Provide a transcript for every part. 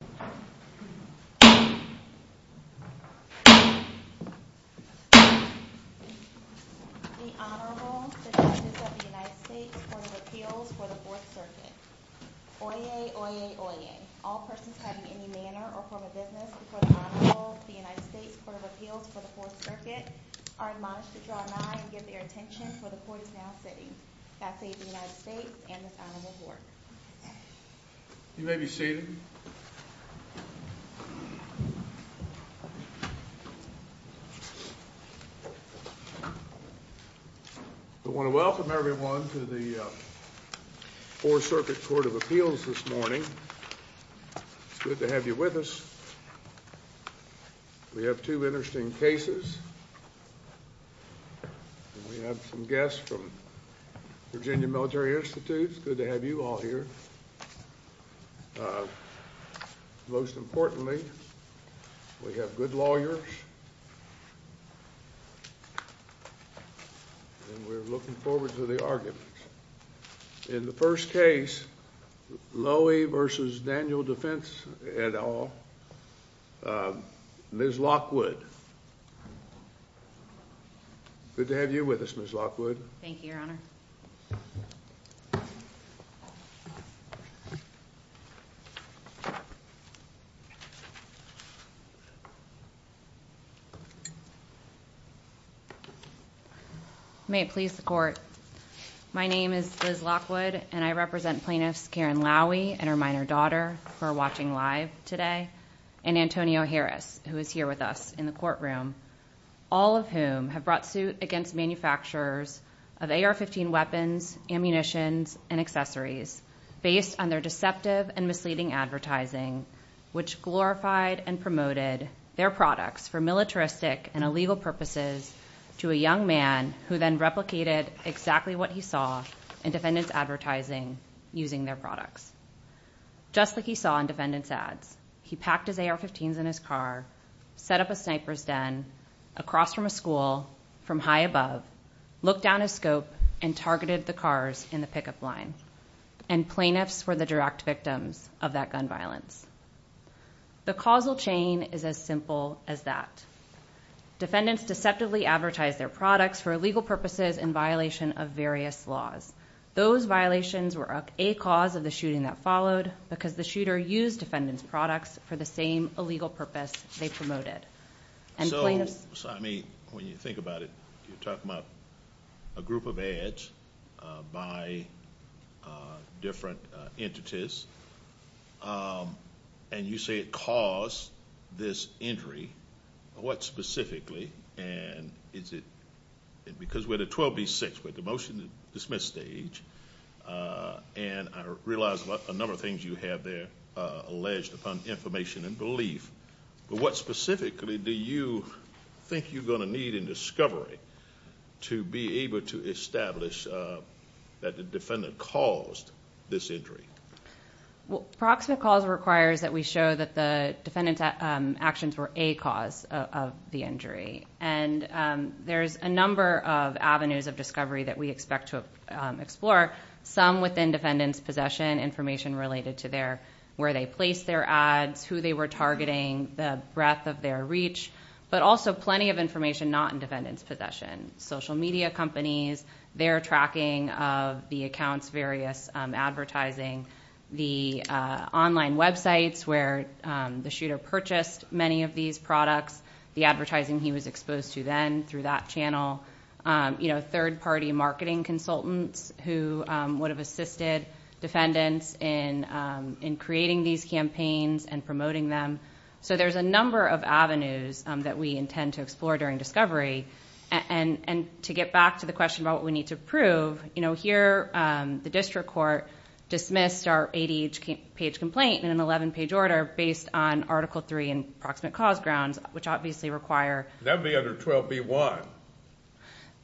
The Honorable, the Judges of the United States Court of Appeals for the 4th Circuit. Oyez, oyez, oyez. All persons having any manner or form of business before the Honorable of the United States Court of Appeals for the 4th Circuit are admonished to draw an eye and give their attention for the Court is now sitting. God save the United States and this Honorable Court. You may be seated. I want to welcome everyone to the 4th Circuit Court of Appeals this morning. It's good to have you with us. We have two interesting cases. We have some guests from Virginia Military Institute. It's good to have you all here. Most importantly, we have good lawyers and we're looking forward to the arguments. In the first case, Lowy v. Daniel Defense, et al., Ms. Lockwood. Good to have you with us, Ms. Lockwood. Thank you, Your Honor. May it please the Court. My name is Liz Lockwood, and I represent Plaintiffs Karen Lowy and her minor daughter who are watching live today, and Antonio Harris, who is here with us in the courtroom, all of whom have brought suit against manufacturers of AR-15 weapons, ammunitions, and accessories based on their deceptive and misleading advertising. Which glorified and promoted their products for militaristic and illegal purposes to a young man who then replicated exactly what he saw in defendant's advertising using their products. Just like he saw in defendant's ads. He packed his AR-15s in his car, set up a sniper's den across from a school from high above, looked down his scope, and targeted the cars in the pickup line. And plaintiffs were the direct victims of that gun violence. The causal chain is as simple as that. Defendants deceptively advertised their products for illegal purposes in violation of various laws. Those violations were a cause of the shooting that followed because the shooter used defendant's products for the same illegal purpose they promoted. So, I mean, when you think about it, you're talking about a group of ads by different entities, and you say it caused this injury. What specifically? And is it, because we're at a 12 v. 6, we're at the motion to dismiss stage, and I realize a number of things you have there alleged upon information and belief. But what specifically do you think you're going to need in discovery to be able to establish that the defendant caused this injury? Well, proximate cause requires that we show that the defendant's actions were a cause of the injury. And there's a number of avenues of discovery that we expect to explore. Some within defendant's possession, information related to where they placed their ads, who they were targeting, the breadth of their reach, but also plenty of information not in defendant's possession. Social media companies, their tracking of the accounts, various advertising, the online websites where the shooter purchased many of these products, the advertising he was exposed to then through that channel. You know, third party marketing consultants who would have assisted defendants in creating these campaigns and promoting them. So there's a number of avenues that we intend to explore during discovery. And to get back to the question about what we need to prove, you know, here the district court dismissed our 80-page complaint in an 11-page order based on Article III and proximate cause grounds, which obviously require... That would be under 12b-1.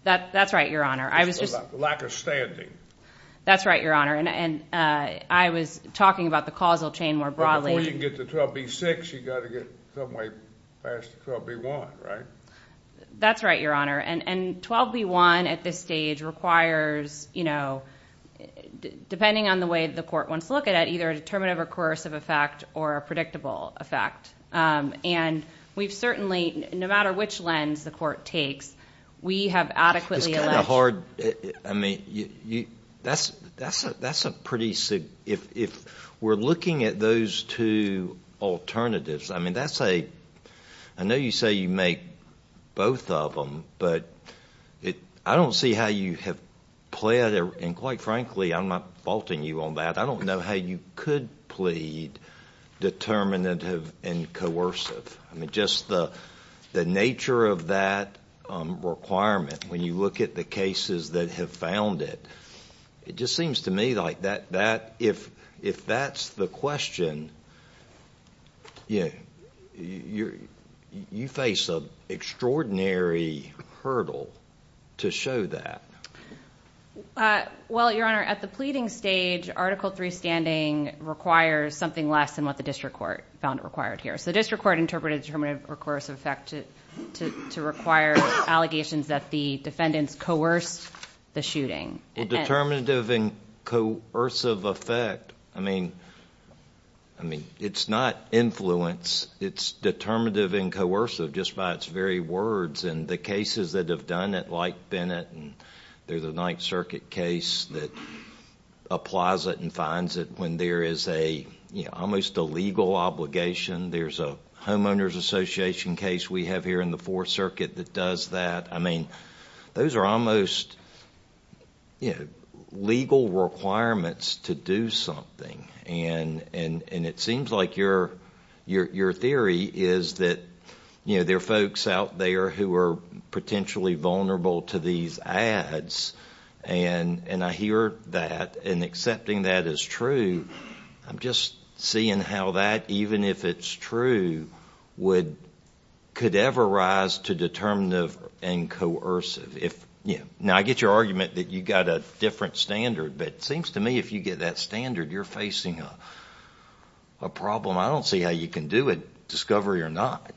That's right, Your Honor. Lack of standing. That's right, Your Honor. And I was talking about the causal chain more broadly. But before you can get to 12b-6, you've got to get some way past 12b-1, right? That's right, Your Honor. And 12b-1 at this stage requires, you know, depending on the way the court wants to look at it, either a determinative or coercive effect or a predictable effect. And we've certainly, no matter which lens the court takes, we have adequately alleged... That's a hard... I mean, that's a pretty... If we're looking at those two alternatives, I mean, that's a... I know you say you make both of them, but I don't see how you have pled, and quite frankly I'm not faulting you on that, I don't know how you could plead determinative and coercive. I mean, just the nature of that requirement, when you look at the cases that have found it, it just seems to me like that, if that's the question, you face an extraordinary hurdle to show that. Well, Your Honor, at the pleading stage, Article III standing requires something less than what the district court found required here. So the district court interpreted determinative or coercive effect to require allegations that the defendants coerced the shooting. Well, determinative and coercive effect, I mean, it's not influence, it's determinative and coercive, just by its very words. And the cases that have done it, like Bennett, and there's a Ninth Circuit case that applies it and finds it when there is a, you know, almost a legal obligation. There's a Homeowners Association case we have here in the Fourth Circuit that does that. I mean, those are almost, you know, legal requirements to do something. And it seems like your theory is that, you know, there are folks out there who are potentially vulnerable to these ads, and I hear that, and accepting that is true. I'm just seeing how that, even if it's true, could ever rise to determinative and coercive. Now, I get your argument that you've got a different standard, but it seems to me if you get that standard, you're facing a problem. I don't see how you can do it, discovery or not.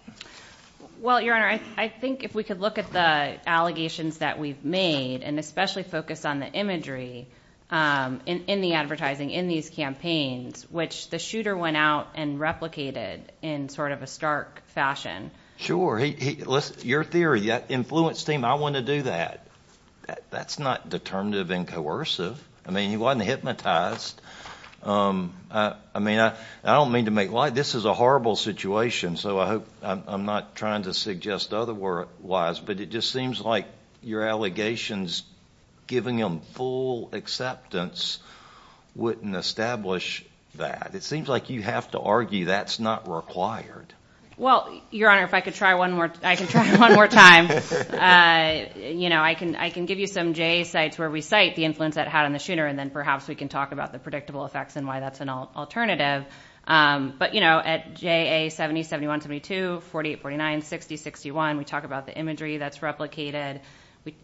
Well, Your Honor, I think if we could look at the allegations that we've made, and especially focus on the imagery in the advertising in these campaigns, which the shooter went out and replicated in sort of a stark fashion. Sure. Your theory, that influence team, I want to do that, that's not determinative and coercive. I mean, he wasn't hypnotized. I mean, I don't mean to make light, this is a horrible situation, so I hope, I'm not trying to suggest otherwise, but it just seems like your allegations, giving them full acceptance, wouldn't establish that. It seems like you have to argue that's not required. Well, Your Honor, if I could try one more time, you know, I can give you some JA sites where we cite the influence that had on the shooter, and then perhaps we can talk about the predictable effects and why that's an alternative. But, you know, at JA 70, 71, 72, 48, 49, 60, 61, we talk about the imagery that's replicated.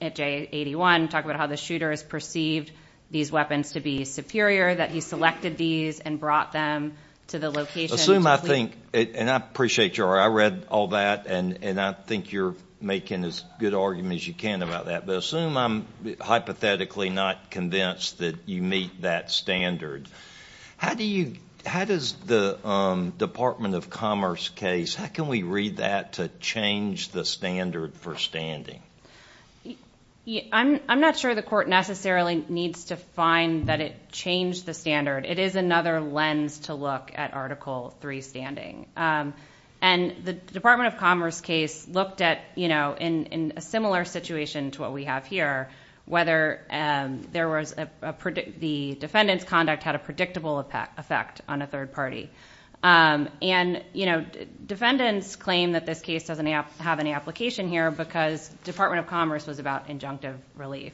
At JA 81, we talk about how the shooter has perceived these weapons to be superior, that he selected these and brought them to the location. I assume, I think, and I appreciate your, I read all that, and I think you're making as good argument as you can about that, but assume I'm hypothetically not convinced that you meet that standard. How do you, how does the Department of Commerce case, how can we read that to change the standard for standing? I'm not sure the court necessarily needs to find that it changed the standard. It is another lens to look at Article III standing. And the Department of Commerce case looked at, you know, in a similar situation to what we have here, whether there was a, the defendant's conduct had a predictable effect on a third party. And, you know, defendants claim that this case doesn't have any application here because Department of Commerce was about injunctive relief.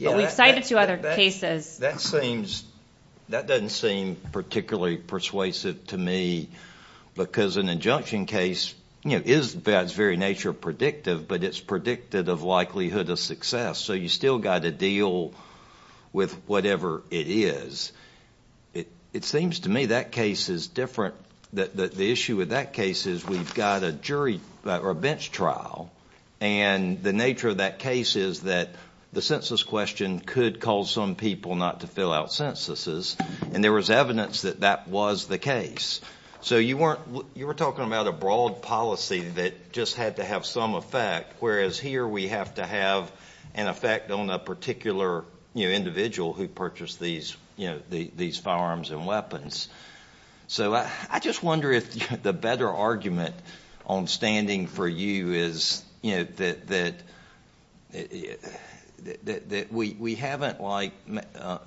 We've cited two other cases. That seems, that doesn't seem particularly persuasive to me because an injunction case, you know, is by its very nature predictive, but it's predicted of likelihood of success. So you've still got to deal with whatever it is. It seems to me that case is different, that the issue with that case is we've got a jury, or a bench trial, and the nature of that case is that the census question could cause some people not to fill out censuses, and there was evidence that that was the case. So you weren't, you were talking about a broad policy that just had to have some effect, whereas here we have to have an effect on a particular, you know, individual who purchased these, you know, these firearms and weapons. So I just wonder if the better argument on standing for you is, you know, that we haven't like, I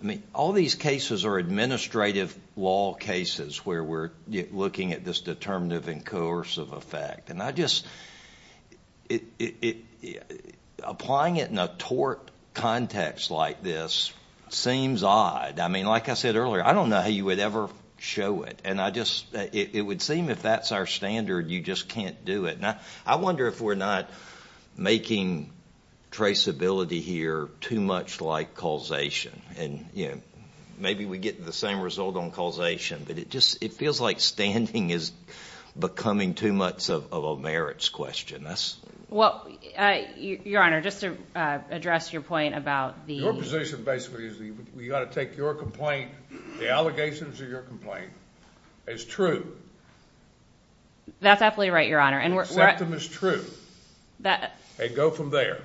mean, all these cases are administrative law cases where we're looking at this determinative and coercive effect. And I just, applying it in a tort context like this seems odd. I mean, like I said earlier, I don't know how you would ever show it, and I just, it would seem if that's our standard, you just can't do it. And I wonder if we're not making traceability here too much like causation, and, you know, maybe we get the same result on causation, but it just, it feels like standing is becoming too much of a merits question. Well, Your Honor, just to address your point about the… Your position basically is we've got to take your complaint, the allegations of your complaint, as true. That's absolutely right, Your Honor, and we're… Accept them as true. That… And go from there.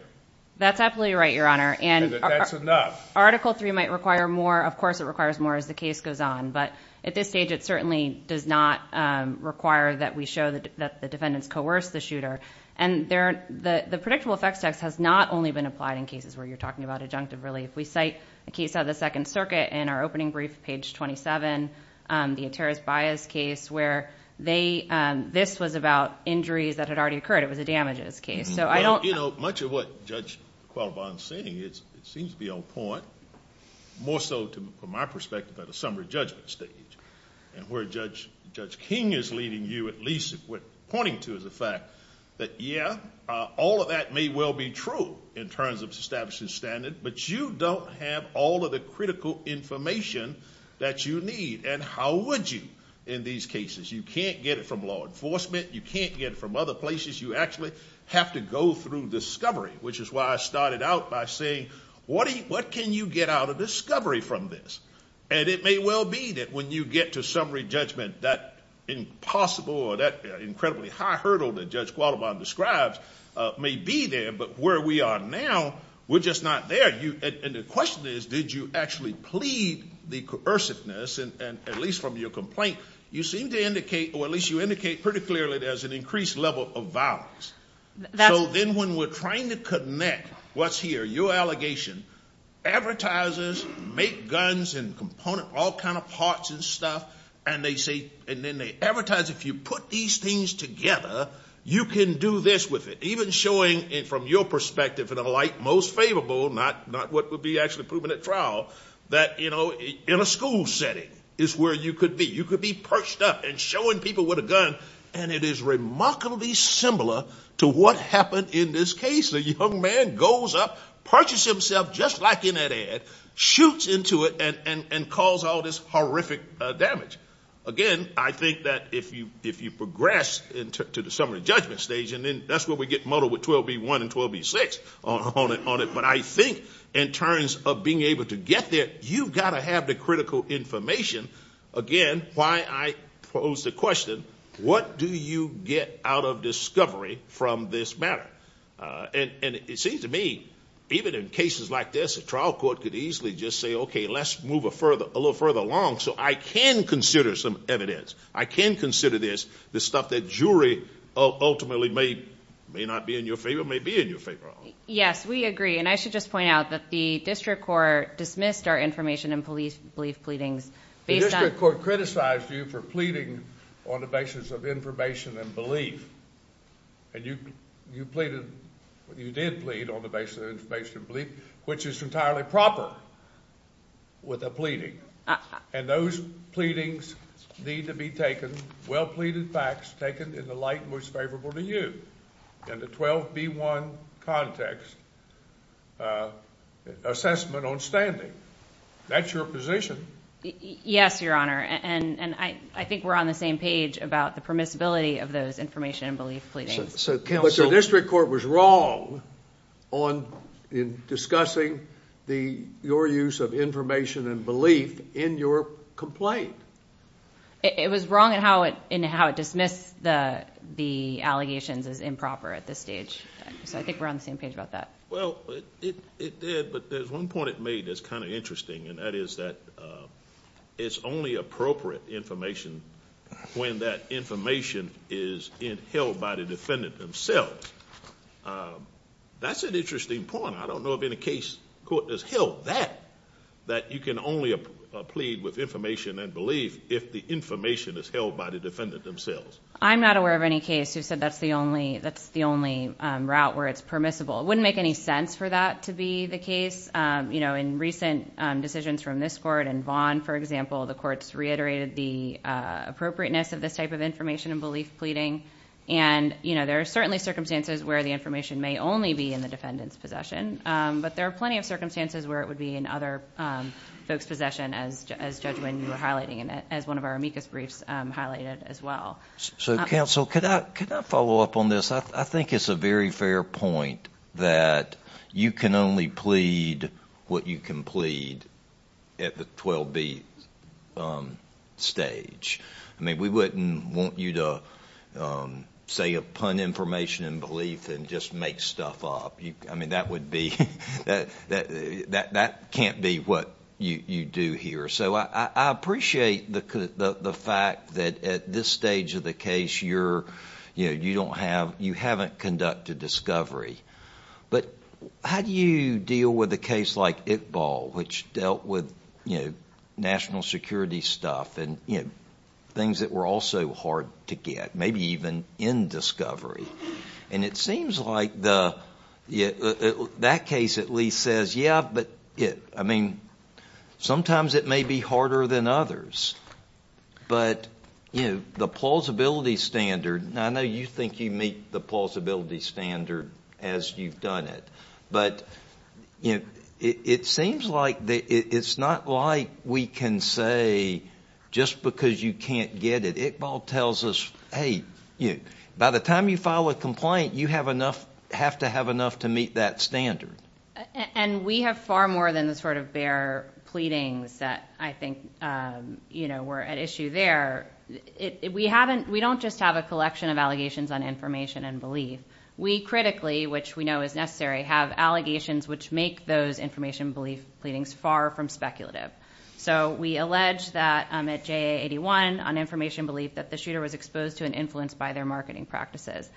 That's absolutely right, Your Honor, and… And that that's enough. Article 3 might require more, of course it requires more as the case goes on, but at this stage it certainly does not require that we show that the defendants coerced the shooter. And the predictable effects text has not only been applied in cases where you're talking about adjunctive relief. We cite a case of the Second Circuit in our opening brief, page 27, the Ataris-Bias case, where they, this was about injuries that had already occurred. It was a damages case, so I don't… All of that may well be true in terms of establishing standard, but you don't have all of the critical information that you need, and how would you in these cases? You can't get it from law enforcement. You can't get it from other places. You actually have to go through discovery, which is why I started out by saying what can you get out of discovery from this? And it may well be that when you get to summary judgment, that impossible or that incredibly high hurdle that Judge Qualibon describes may be there, but where we are now, we're just not there. And the question is, did you actually plead the coerciveness, and at least from your complaint, you seem to indicate, or at least you indicate pretty clearly there's an increased level of violence. So then when we're trying to connect what's here, your allegation, advertisers make guns and components, all kinds of parts and stuff, and they say, and then they advertise, if you put these things together, you can do this with it. Even showing it from your perspective in a light most favorable, not what would be actually proven at trial, that in a school setting is where you could be. You could be perched up and showing people with a gun, and it is remarkably similar to what happened in this case. A young man goes up, purchases himself just like in that ad, shoots into it, and causes all this horrific damage. Again, I think that if you progress to the summary judgment stage, and that's where we get muddled with 12B1 and 12B6 on it, but I think in terms of being able to get there, you've got to have the critical information. Again, why I pose the question, what do you get out of discovery from this matter? And it seems to me, even in cases like this, a trial court could easily just say, okay, let's move a little further along so I can consider some evidence. I can consider this, the stuff that jury ultimately may not be in your favor, may be in your favor. Yes, we agree. And I should just point out that the district court dismissed our information and belief pleadings. The district court criticized you for pleading on the basis of information and belief. And you pleaded, you did plead on the basis of information and belief, which is entirely proper with a pleading. And those pleadings need to be taken, well-pleaded facts taken in the light most favorable to you. And the 12B1 context, assessment on standing, that's your position. Yes, Your Honor, and I think we're on the same page about the permissibility of those information and belief pleadings. But the district court was wrong in discussing your use of information and belief in your complaint. It was wrong in how it dismissed the allegations as improper at this stage. So I think we're on the same page about that. Well, it did, but there's one point it made that's kind of interesting, and that is that it's only appropriate information when that information is held by the defendant themselves. That's an interesting point. I don't know of any case court has held that, that you can only plead with information and belief if the information is held by the defendant themselves. I'm not aware of any case who said that's the only route where it's permissible. It wouldn't make any sense for that to be the case. You know, in recent decisions from this court and Vaughn, for example, the courts reiterated the appropriateness of this type of information and belief pleading. And, you know, there are certainly circumstances where the information may only be in the defendant's possession. But there are plenty of circumstances where it would be in other folks' possession, as Judge Winn, you were highlighting, and as one of our amicus briefs highlighted as well. So, counsel, could I follow up on this? I think it's a very fair point that you can only plead what you can plead at the 12-B stage. I mean, we wouldn't want you to say a pun information and belief and just make stuff up. I mean, that would be, that can't be what you do here. So I appreciate the fact that at this stage of the case you're, you know, you don't have, you haven't conducted discovery. But how do you deal with a case like Iqbal, which dealt with, you know, national security stuff and, you know, things that were also hard to get, maybe even in discovery? And it seems like the, that case at least says, yeah, but, I mean, sometimes it may be harder than others. But, you know, the plausibility standard, I know you think you meet the plausibility standard as you've done it. But, you know, it seems like, it's not like we can say just because you can't get it. Iqbal tells us, hey, by the time you file a complaint, you have enough, have to have enough to meet that standard. And we have far more than the sort of bare pleadings that I think, you know, were at issue there. We haven't, we don't just have a collection of allegations on information and belief. We critically, which we know is necessary, have allegations which make those information belief pleadings far from speculative. So we allege that at JA81 on information belief that the shooter was exposed to and influenced by their marketing practices.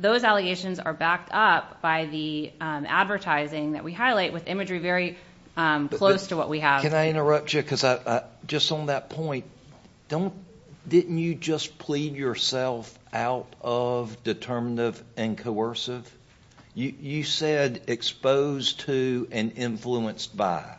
Those allegations are backed up by the advertising that we highlight with imagery very close to what we have. Can I interrupt you? Because I, just on that point, don't, didn't you just plead yourself out of determinative and coercive? You said exposed to and influenced by.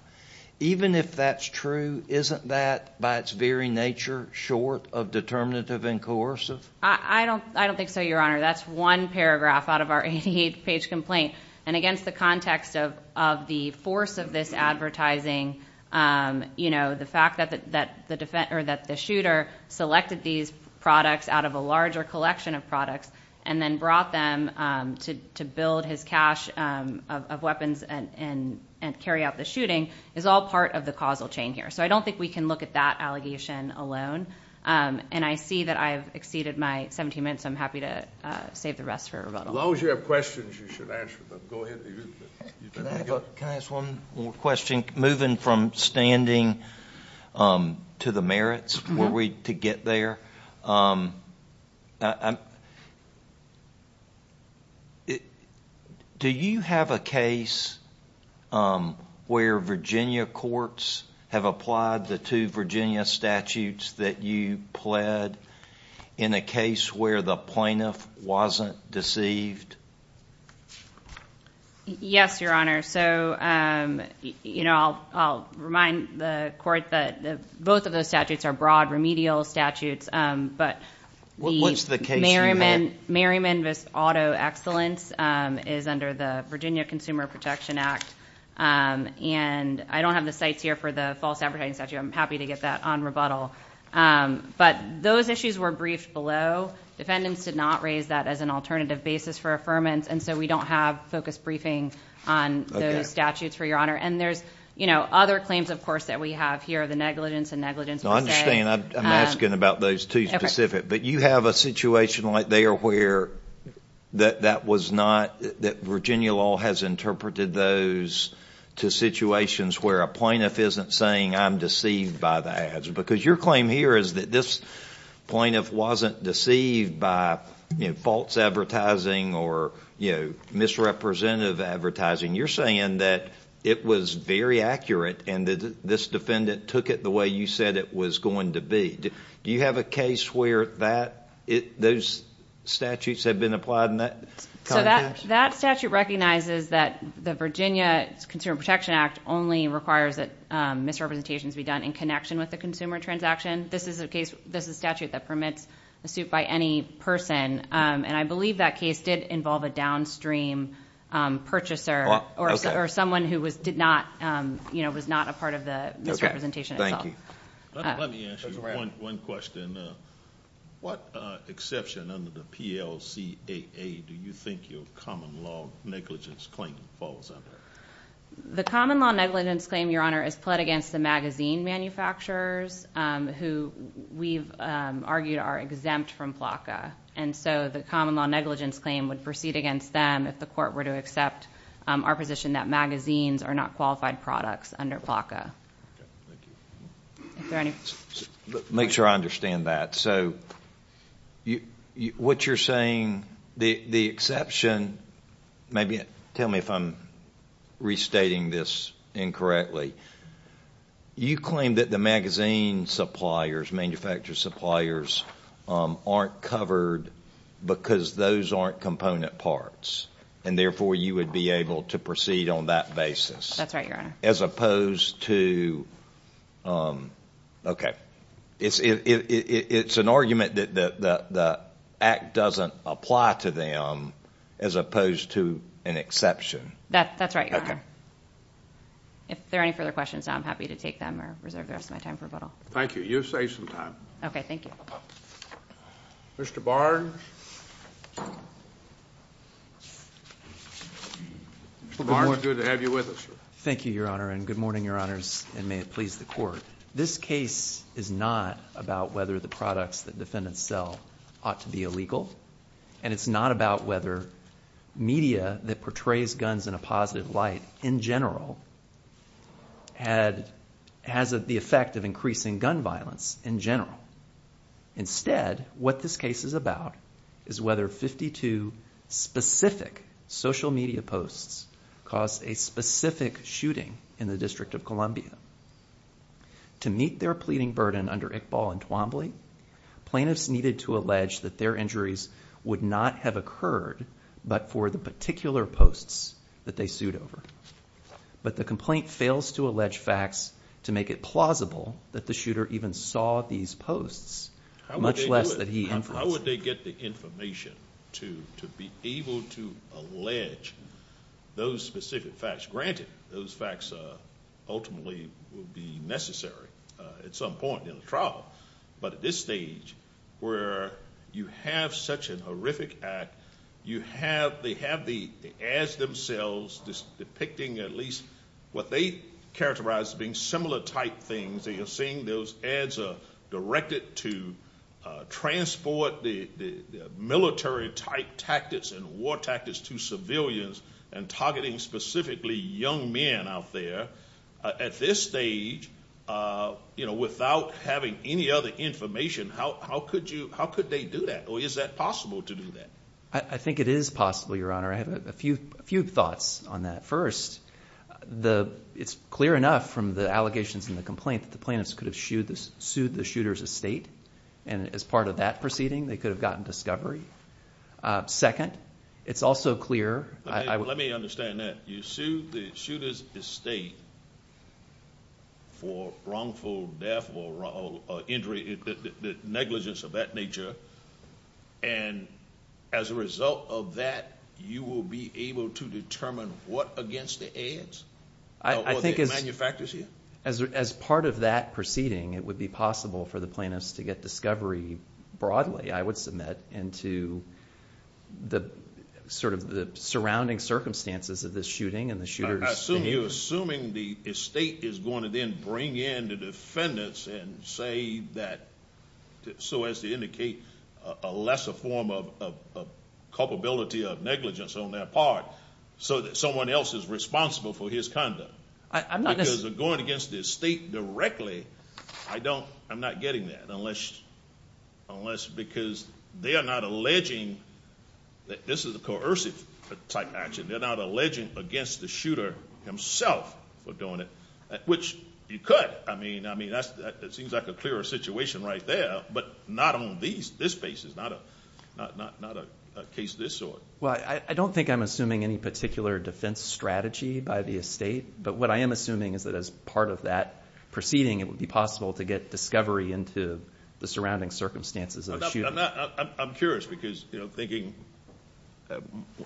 Even if that's true, isn't that by its very nature short of determinative and coercive? I don't think so, Your Honor. That's one paragraph out of our 88-page complaint. And against the context of the force of this advertising, you know, the fact that the shooter selected these products out of a larger collection of products and then brought them to build his cache of weapons and carry out the shooting is all part of the causal chain here. So I don't think we can look at that allegation alone. And I see that I've exceeded my 17 minutes. I'm happy to save the rest for rebuttal. As long as you have questions, you should answer them. Go ahead. Can I ask one more question? I think moving from standing to the merits, were we to get there, do you have a case where Virginia courts have applied the two Virginia statutes that you pled in a case where the plaintiff wasn't deceived? Yes, Your Honor. So, you know, I'll remind the court that both of those statutes are broad remedial statutes. But the Merriman v. Auto Excellence is under the Virginia Consumer Protection Act. And I don't have the cites here for the false advertising statute. I'm happy to get that on rebuttal. But those issues were briefed below. Defendants did not raise that as an alternative basis for affirmance. And so we don't have focused briefing on those statutes, for Your Honor. And there's, you know, other claims, of course, that we have here, the negligence and negligence per se. I understand. I'm asking about those two specific. But you have a situation right there where that was not that Virginia law has interpreted those to situations where a plaintiff isn't saying I'm deceived by the ads. Because your claim here is that this plaintiff wasn't deceived by, you know, false advertising or, you know, misrepresentative advertising. You're saying that it was very accurate and that this defendant took it the way you said it was going to be. Do you have a case where those statutes have been applied in that context? So that statute recognizes that the Virginia Consumer Protection Act only requires that misrepresentations be done in connection with the consumer transaction. This is a case, this is a statute that permits a suit by any person. And I believe that case did involve a downstream purchaser or someone who did not, you know, was not a part of the misrepresentation itself. Let me ask you one question. What exception under the PLCAA do you think your common law negligence claim falls under? The common law negligence claim, Your Honor, is pled against the magazine manufacturers who we've argued are exempt from PLACA. And so the common law negligence claim would proceed against them if the court were to accept our position that magazines are not qualified products under PLACA. Thank you. Make sure I understand that. So what you're saying, the exception, maybe tell me if I'm restating this incorrectly. You claim that the magazine suppliers, manufacturer suppliers, aren't covered because those aren't component parts. And therefore you would be able to proceed on that basis. That's right, Your Honor. As opposed to, okay, it's an argument that the act doesn't apply to them as opposed to an exception. That's right, Your Honor. Okay. If there are any further questions, I'm happy to take them or reserve the rest of my time for rebuttal. Thank you. You saved some time. Okay, thank you. Mr. Barnes. Good morning. Thank you, Your Honor, and good morning, Your Honors, and may it please the court. This case is not about whether the products that defendants sell ought to be illegal. And it's not about whether media that portrays guns in a positive light in general has the effect of increasing gun violence in general. Instead, what this case is about is whether 52 specific social media posts caused a specific shooting in the District of Columbia. To meet their pleading burden under Iqbal and Twombly, plaintiffs needed to allege that their injuries would not have occurred but for the particular posts that they sued over. But the complaint fails to allege facts to make it plausible that the shooter even saw these posts, much less that he influenced them. How would they get the information to be able to allege those specific facts? Granted, those facts ultimately would be necessary at some point in the trial. But at this stage, where you have such a horrific act, they have the ads themselves depicting at least what they characterize as being similar type things. You're seeing those ads are directed to transport the military type tactics and war tactics to civilians and targeting specifically young men out there. At this stage, without having any other information, how could they do that? Or is that possible to do that? I think it is possible, Your Honor. I have a few thoughts on that. First, it's clear enough from the allegations in the complaint that the plaintiffs could have sued the shooter's estate. And as part of that proceeding, they could have gotten discovery. Second, it's also clear. Let me understand that. You sued the shooter's estate for wrongful death or injury, negligence of that nature. And as a result of that, you will be able to determine what against the ads? I think as part of that proceeding, it would be possible for the plaintiffs to get discovery broadly, I would submit. And to the surrounding circumstances of this shooting and the shooter's behavior. I assume you're assuming the estate is going to then bring in the defendants and say that, so as to indicate a lesser form of culpability of negligence on their part, so that someone else is responsible for his conduct. Because of going against the estate directly, I'm not getting that. Unless because they are not alleging that this is a coercive type action. They're not alleging against the shooter himself for doing it, which you could. I mean, that seems like a clearer situation right there, but not on this case. It's not a case of this sort. Well, I don't think I'm assuming any particular defense strategy by the estate. But what I am assuming is that as part of that proceeding, it would be possible to get discovery into the surrounding circumstances of the shooting. I'm curious because thinking,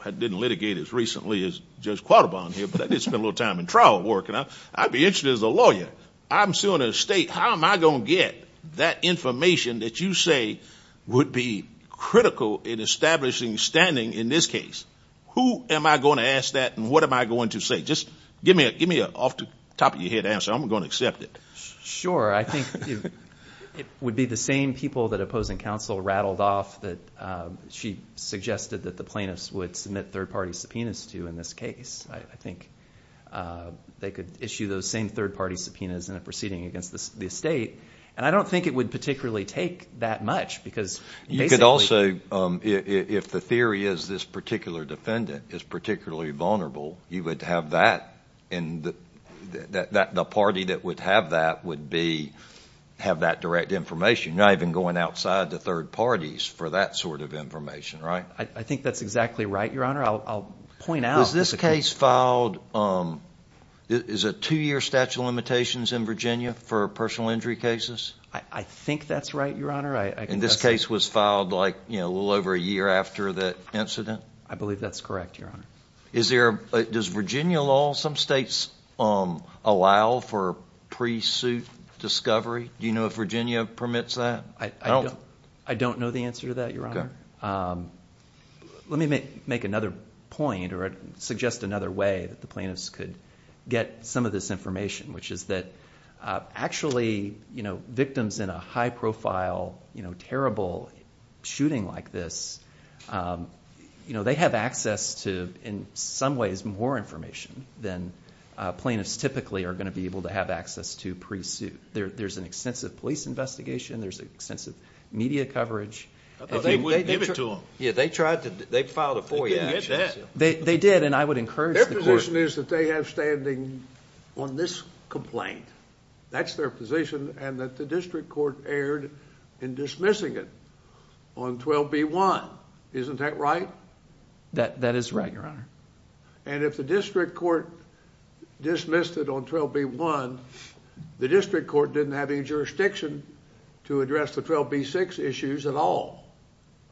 I didn't litigate as recently as Judge Quattlebaum here, but I did spend a little time in trial working. I'd be interested as a lawyer, I'm suing an estate. How am I going to get that information that you say would be critical in establishing standing in this case? Who am I going to ask that and what am I going to say? Just give me an off-the-top-of-your-head answer. I'm going to accept it. Sure. I think it would be the same people that opposing counsel rattled off that she suggested that the plaintiffs would submit third-party subpoenas to in this case. I think they could issue those same third-party subpoenas in a proceeding against the estate. And I don't think it would particularly take that much because basically— You could also, if the theory is this particular defendant is particularly vulnerable, you would have that in the – the party that would have that would be – have that direct information. You're not even going outside the third parties for that sort of information, right? I think that's exactly right, Your Honor. Was this case filed – is it two-year statute of limitations in Virginia for personal injury cases? I think that's right, Your Honor. And this case was filed like a little over a year after the incident? I believe that's correct, Your Honor. Is there – does Virginia law, some states allow for pre-suit discovery? Do you know if Virginia permits that? I don't know the answer to that, Your Honor. Let me make another point or suggest another way that the plaintiffs could get some of this information, which is that actually victims in a high-profile, terrible shooting like this, they have access to, in some ways, more information than plaintiffs typically are going to be able to have access to pre-suit. There's an extensive police investigation. There's extensive media coverage. They wouldn't give it to them. Yeah, they tried to – they filed a four-year statute. They didn't get that. They did, and I would encourage the court – Their position is that they have standing on this complaint. That's their position, and that the district court erred in dismissing it on 12b-1. Isn't that right? That is right, Your Honor. And if the district court dismissed it on 12b-1, the district court didn't have any jurisdiction to address the 12b-6 issues at all.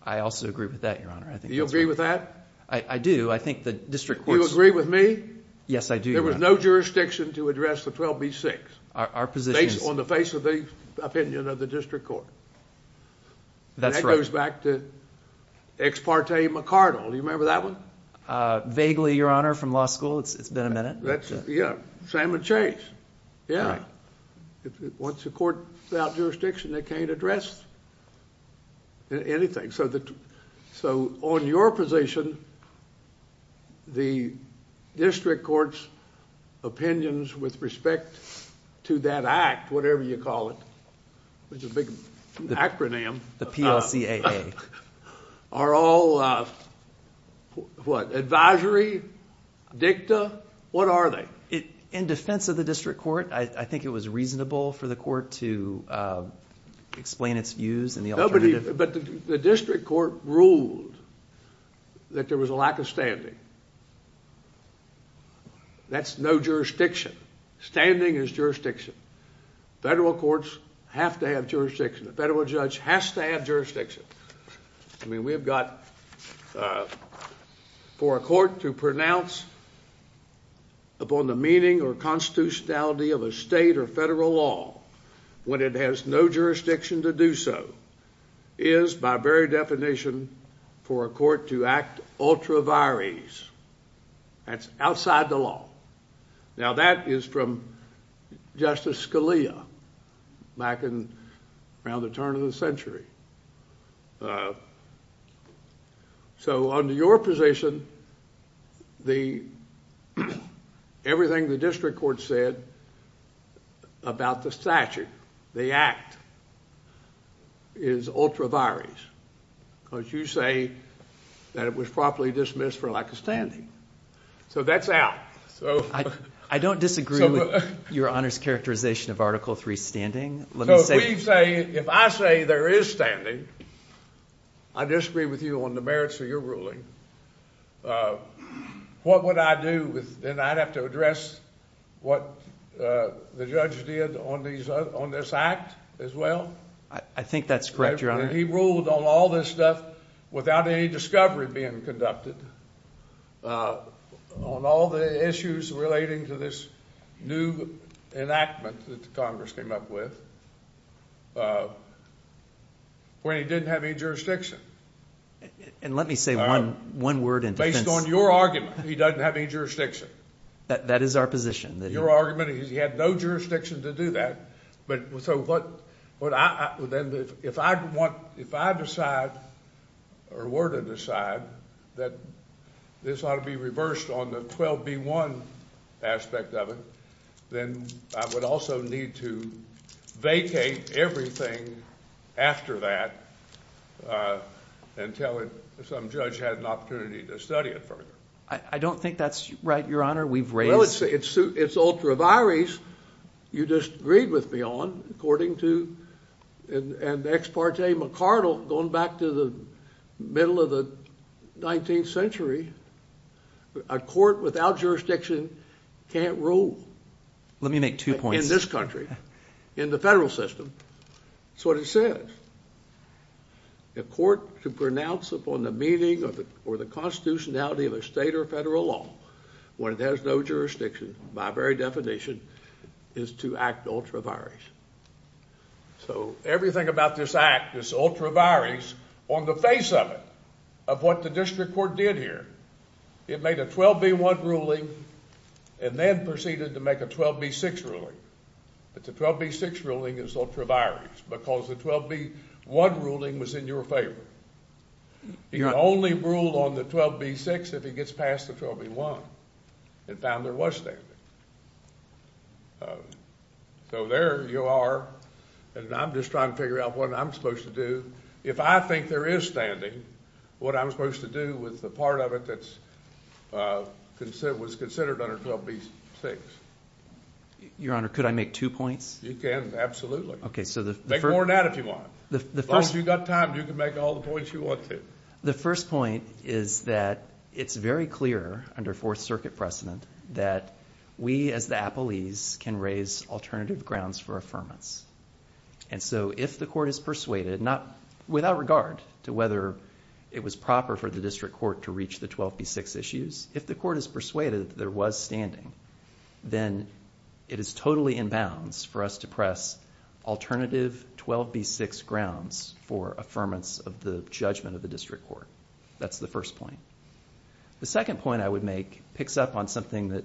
I also agree with that, Your Honor. Do you agree with that? I do. I think the district court's – Do you agree with me? Yes, I do, Your Honor. There was no jurisdiction to address the 12b-6 on the face of the opinion of the district court. That's right. Ex parte McCardle. Do you remember that one? Vaguely, Your Honor, from law school. It's been a minute. Yeah. Sam and Chase. Yeah. Once a court without jurisdiction, they can't address anything. So on your position, the district court's opinions with respect to that act, whatever you call it, which is a big acronym. The PLCAA. Are all advisory, dicta? What are they? In defense of the district court, I think it was reasonable for the court to explain its views and the alternative. But the district court ruled that there was a lack of standing. That's no jurisdiction. Standing is jurisdiction. Federal courts have to have jurisdiction. A federal judge has to have jurisdiction. I mean, we have got for a court to pronounce upon the meaning or constitutionality of a state or federal law when it has no jurisdiction to do so is by very definition for a court to act ultra vires. That's outside the law. Now, that is from Justice Scalia back around the turn of the century. So under your position, everything the district court said about the statute, the act, is ultra vires. Because you say that it was properly dismissed for lack of standing. So that's out. I don't disagree with your Honor's characterization of Article III standing. If I say there is standing, I disagree with you on the merits of your ruling. What would I do? Then I would have to address what the judge did on this act as well? I think that's correct, Your Honor. He ruled on all this stuff without any discovery being conducted on all the issues relating to this new enactment that Congress came up with when he didn't have any jurisdiction. And let me say one word in defense. Based on your argument, he doesn't have any jurisdiction. That is our position. Your argument is he had no jurisdiction to do that. If I decide or were to decide that this ought to be reversed on the 12B1 aspect of it, then I would also need to vacate everything after that until some judge had an opportunity to study it further. I don't think that's right, Your Honor. Well, it's ultra vires. You disagreed with me on, according to an ex parte McCardle going back to the middle of the 19th century. A court without jurisdiction can't rule. Let me make two points. In this country. In the federal system. That's what it says. A court to pronounce upon the meaning or the constitutionality of a state or federal law when it has no jurisdiction by very definition is to act ultra vires. So everything about this act is ultra vires on the face of it of what the district court did here. It made a 12B1 ruling and then proceeded to make a 12B6 ruling. But the 12B6 ruling is ultra vires because the 12B1 ruling was in your favor. You can only rule on the 12B6 if it gets past the 12B1 and found there was standing. So there you are, and I'm just trying to figure out what I'm supposed to do. If I think there is standing, what I'm supposed to do with the part of it that was considered under 12B6. Your Honor, could I make two points? You can, absolutely. Make more than that if you want. As long as you've got time, you can make all the points you want to. The first point is that it's very clear under Fourth Circuit precedent that we as the appellees can raise alternative grounds for affirmance. And so if the court is persuaded, without regard to whether it was proper for the district court to reach the 12B6 issues, if the court is persuaded that there was standing, then it is totally in bounds for us to press alternative 12B6 grounds for affirmance of the judgment of the district court. That's the first point. The second point I would make picks up on something that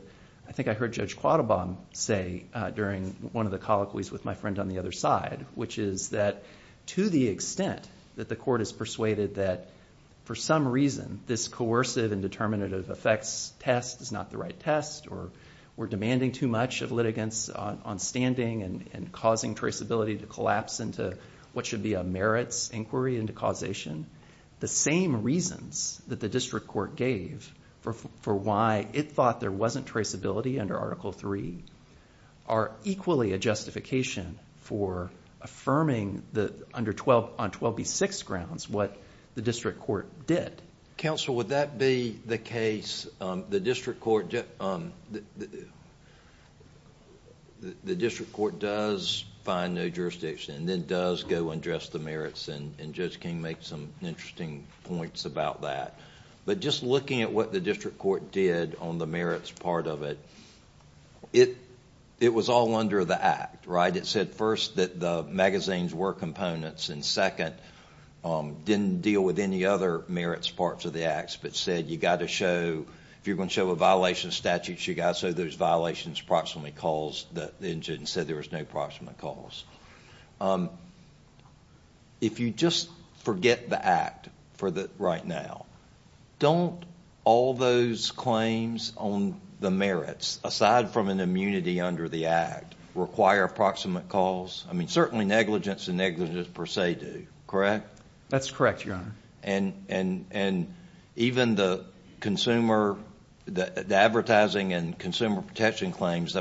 I think I heard Judge Quattlebaum say during one of the colloquies with my friend on the other side, which is that to the extent that the court is persuaded that for some reason this coercive and determinative effects test is not the right test, or we're demanding too much of litigants on standing and causing traceability to collapse into what should be a merits inquiry into causation, the same reasons that the district court gave for why it thought there wasn't traceability under Article III are equally a justification for affirming on 12B6 grounds what the district court did. Counsel, would that be the case? The district court does find no jurisdiction and then does go and address the merits, and Judge King made some interesting points about that. But just looking at what the district court did on the merits part of it, it was all under the Act, right? It said first that the magazines were components, and second, didn't deal with any other merits parts of the Acts, but said you've got to show, if you're going to show a violation of statutes, you've got to show those violations approximately caused, and said there was no approximate cause. If you just forget the Act right now, don't all those claims on the merits, aside from an immunity under the Act, require approximate cause? Certainly negligence and negligence per se do, correct? That's correct, Your Honor. Even the advertising and consumer protection claims,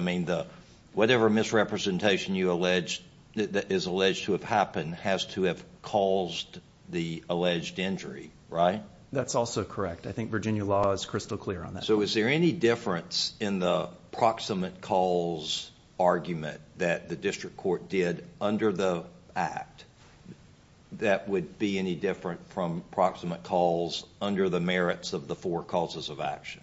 whatever misrepresentation is alleged to have happened has to have caused the alleged injury, right? That's also correct. I think Virginia law is crystal clear on that. Is there any difference in the approximate cause argument that the district court did under the Act that would be any different from approximate cause under the merits of the four causes of action?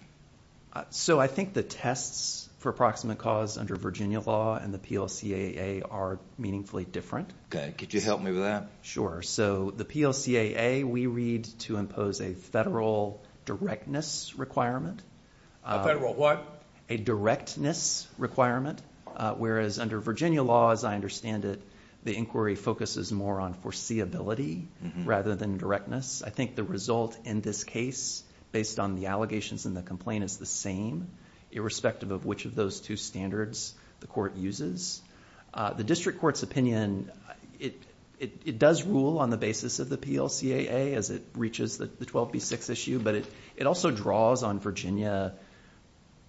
I think the tests for approximate cause under Virginia law and the PLCAA are meaningfully different. Could you help me with that? Sure. The PLCAA, we read to impose a federal directness requirement. A federal what? A directness requirement, whereas under Virginia law, as I understand it, the inquiry focuses more on foreseeability rather than directness. I think the result in this case, based on the allegations and the complaint, is the same, irrespective of which of those two standards the court uses. The district court's opinion, it does rule on the basis of the PLCAA as it reaches the 12B6 issue, but it also draws on Virginia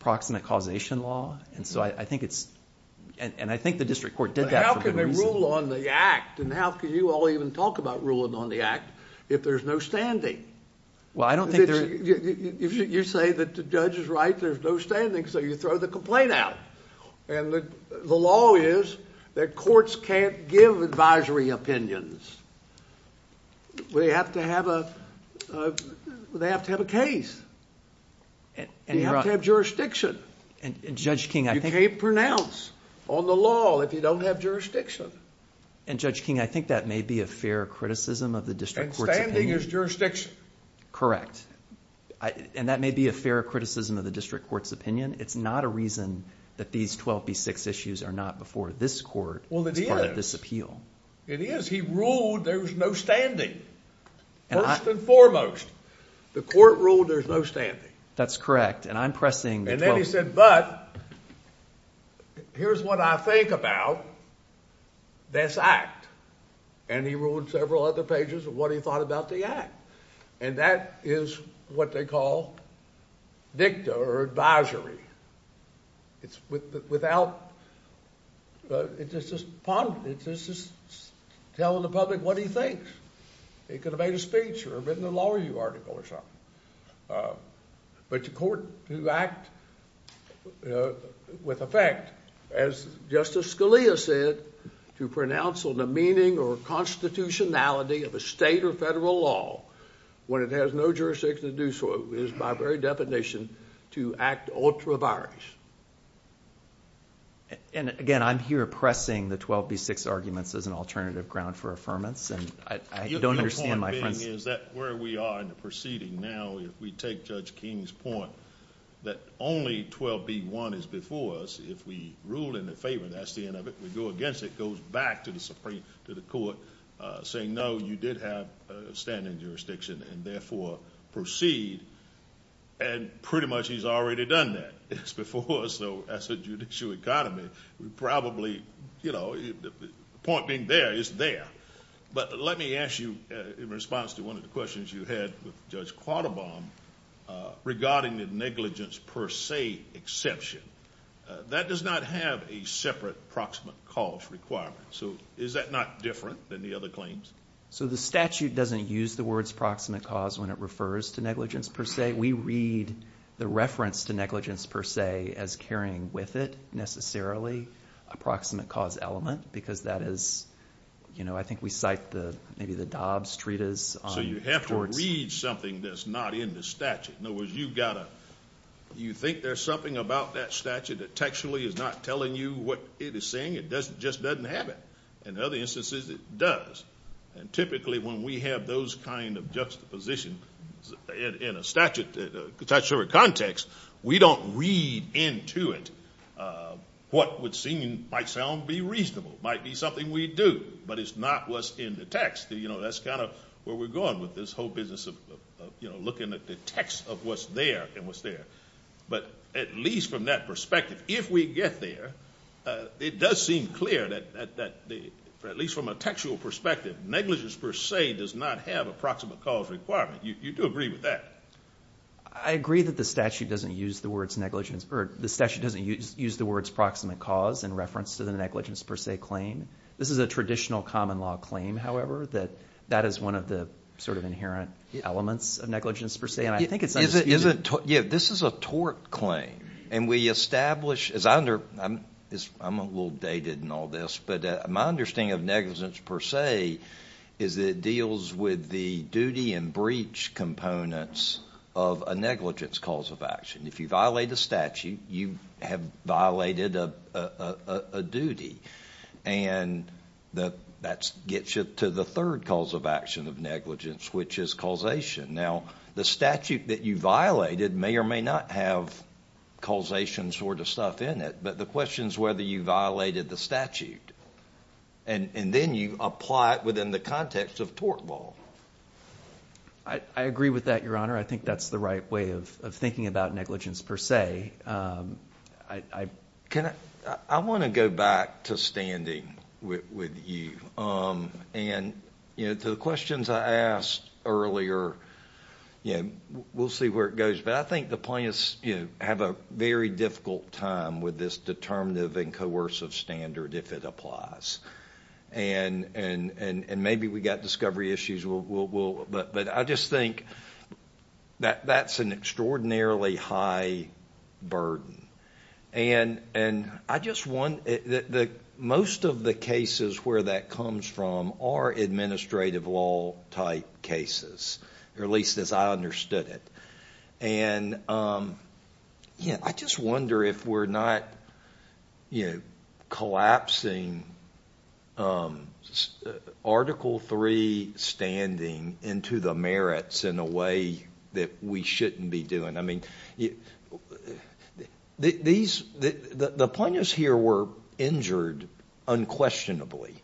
approximate causation law. I think the district court did that for good reason. How can they rule on the Act, and how can you all even talk about ruling on the Act, if there's no standing? You say that the judge is right, there's no standing, so you throw the complaint out. The law is that courts can't give advisory opinions. They have to have a case. They have to have jurisdiction. You can't pronounce on the law if you don't have jurisdiction. Judge King, I think that may be a fair criticism of the district court's opinion. And standing is jurisdiction. Correct. And that may be a fair criticism of the district court's opinion. It's not a reason that these 12B6 issues are not before this court as part of this appeal. It is. He ruled there's no standing, first and foremost. The court ruled there's no standing. That's correct. And I'm pressing the 12B6. And then he said, but here's what I think about this Act. And he ruled several other pages of what he thought about the Act. And that is what they call dicta or advisory. It's without – it's just telling the public what he thinks. He could have made a speech or written a law review article or something. But the court, to act with effect, as Justice Scalia said, to pronounce on the meaning or constitutionality of a state or federal law when it has no jurisdiction to do so is, by very definition, to act ultra vires. And, again, I'm here pressing the 12B6 arguments as an alternative ground for affirmance. And I don't understand my friend's – The point being is that where we are in the proceeding now, if we take Judge King's point that only 12B1 is before us, if we rule in the favor, that's the end of it. If we go against it, it goes back to the Supreme – to the court, saying, no, you did have standing jurisdiction and, therefore, proceed. And pretty much he's already done that. It's before us, though, as a judicial economy. We probably – the point being there, it's there. But let me ask you in response to one of the questions you had with Judge Quattlebaum regarding the negligence per se exception. That does not have a separate proximate cause requirement. So is that not different than the other claims? So the statute doesn't use the words proximate cause when it refers to negligence per se. We read the reference to negligence per se as carrying with it, necessarily, a proximate cause element because that is – I think we cite maybe the Dobbs treatise. So you have to read something that's not in the statute. In other words, you've got to – you think there's something about that statute that textually is not telling you what it is saying? It just doesn't have it. In other instances, it does. And typically when we have those kind of juxtapositions in a statutory context, we don't read into it what would seem, might sound, be reasonable. It might be something we do, but it's not what's in the text. You know, that's kind of where we're going with this whole business of, you know, looking at the text of what's there and what's there. But at least from that perspective, if we get there, it does seem clear that at least from a textual perspective, negligence per se does not have a proximate cause requirement. You do agree with that? I agree that the statute doesn't use the words negligence – or the statute doesn't use the words proximate cause in reference to the negligence per se claim. This is a traditional common law claim, however, that that is one of the sort of inherent elements of negligence per se, and I think it's undisputed. Yeah, this is a tort claim, and we establish – I'm a little dated in all this, but my understanding of negligence per se is that it deals with the duty and breach components of a negligence cause of action. If you violate a statute, you have violated a duty, and that gets you to the third cause of action of negligence, which is causation. Now, the statute that you violated may or may not have causation sort of stuff in it, but the question is whether you violated the statute, and then you apply it within the context of tort law. I agree with that, Your Honor. I think that's the right way of thinking about negligence per se. I want to go back to standing with you, and to the questions I asked earlier, we'll see where it goes, but I think the plaintiffs have a very difficult time with this determinative and coercive standard if it applies, and maybe we've got discovery issues, but I just think that that's an extraordinarily high burden. Most of the cases where that comes from are administrative law-type cases, or at least as I understood it. I just wonder if we're not collapsing Article III standing into the merits in a way that we shouldn't be doing. The plaintiffs here were injured unquestionably,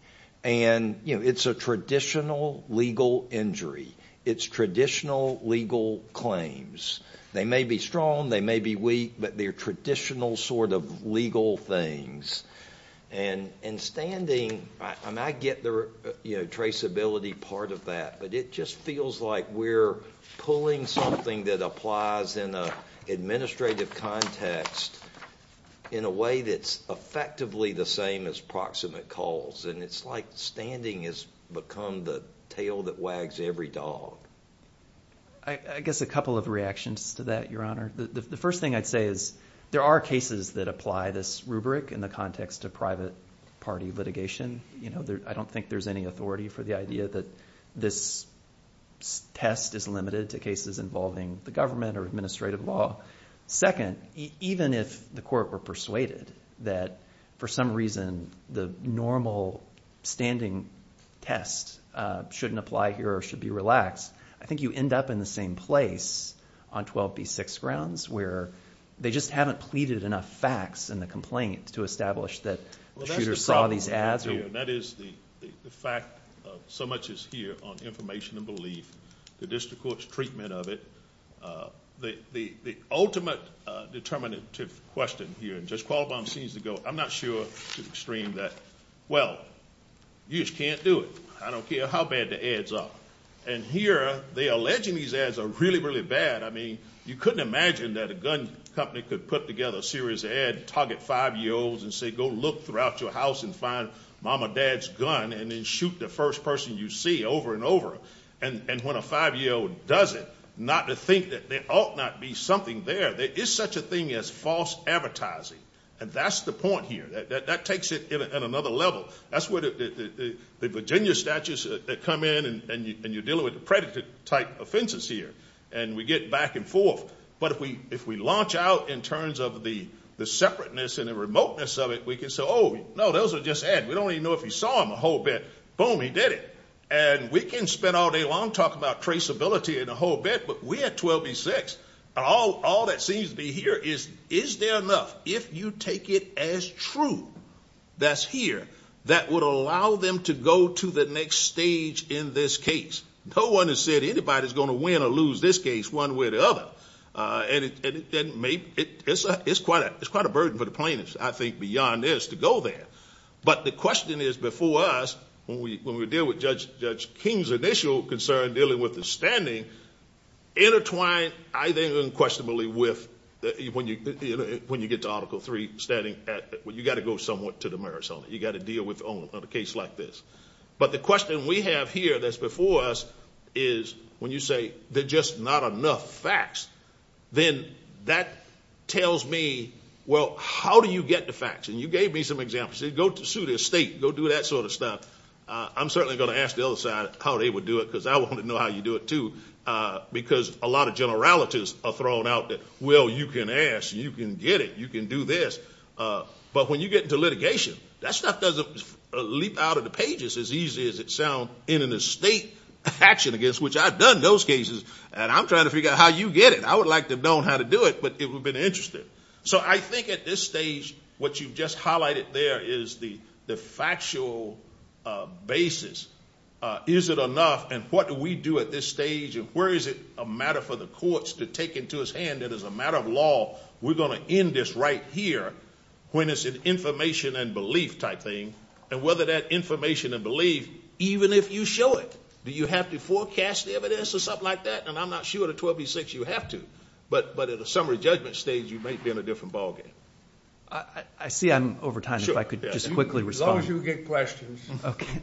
and it's a traditional legal injury. It's traditional legal claims. They may be strong, they may be weak, but they're traditional sort of legal things. And standing, I get the traceability part of that, but it just feels like we're pulling something that applies in an administrative context in a way that's effectively the same as proximate calls, and it's like standing has become the tail that wags every dog. I guess a couple of reactions to that, Your Honor. The first thing I'd say is there are cases that apply this rubric in the context of private party litigation. I don't think there's any authority for the idea that this test is limited to cases involving the government or administrative law. Second, even if the court were persuaded that for some reason the normal standing test shouldn't apply here or should be relaxed, I think you end up in the same place on 12B6 grounds where they just haven't pleaded enough facts in the complaint to establish that the shooter saw these ads. That is the fact of so much is here on information and belief, the district court's treatment of it. The ultimate determinative question here, Judge Qualabong seems to go, I'm not sure to the extreme that, well, you just can't do it. I don't care how bad the ads are. And here they're alleging these ads are really, really bad. I mean, you couldn't imagine that a gun company could put together a series of ads and target five-year-olds and say, go look throughout your house and find mom or dad's gun and then shoot the first person you see over and over. And when a five-year-old does it, not to think that there ought not be something there. There is such a thing as false advertising. And that's the point here. That takes it at another level. That's where the Virginia statutes that come in and you're dealing with the predator-type offenses here. And we get back and forth. But if we launch out in terms of the separateness and the remoteness of it, we can say, oh, no, those are just ads. We don't even know if he saw them a whole bit. Boom, he did it. And we can spend all day long talking about traceability and a whole bit, but we're at 12 v. 6, and all that seems to be here is, is there enough, if you take it as true, that's here, that would allow them to go to the next stage in this case? No one has said anybody's going to win or lose this case one way or the other. And it's quite a burden for the plaintiffs, I think, beyond theirs to go there. But the question is before us, when we deal with Judge King's initial concern dealing with the standing, intertwined, I think, unquestionably, with when you get to Article III, you've got to go somewhat to the merits of it. You've got to deal with a case like this. But the question we have here that's before us is, when you say there's just not enough facts, then that tells me, well, how do you get the facts? And you gave me some examples. You said go sue the estate, go do that sort of stuff. I'm certainly going to ask the other side how they would do it, because I want to know how you do it, too, because a lot of generalities are thrown out there. Well, you can ask, you can get it, you can do this. But when you get into litigation, that stuff doesn't leap out of the pages as easy as it sounds in an estate action, which I've done in those cases. And I'm trying to figure out how you get it. I would like to have known how to do it, but it would have been interesting. So I think at this stage what you've just highlighted there is the factual basis. Is it enough? And what do we do at this stage? And where is it a matter for the courts to take into his hand that as a matter of law, we're going to end this right here when it's an information and belief type thing, and whether that information and belief, even if you show it, do you have to forecast the evidence or something like that? And I'm not sure at a 12 v. 6 you have to. But at a summary judgment stage you might be in a different ballgame. I see I'm over time. If I could just quickly respond. As long as you get questions.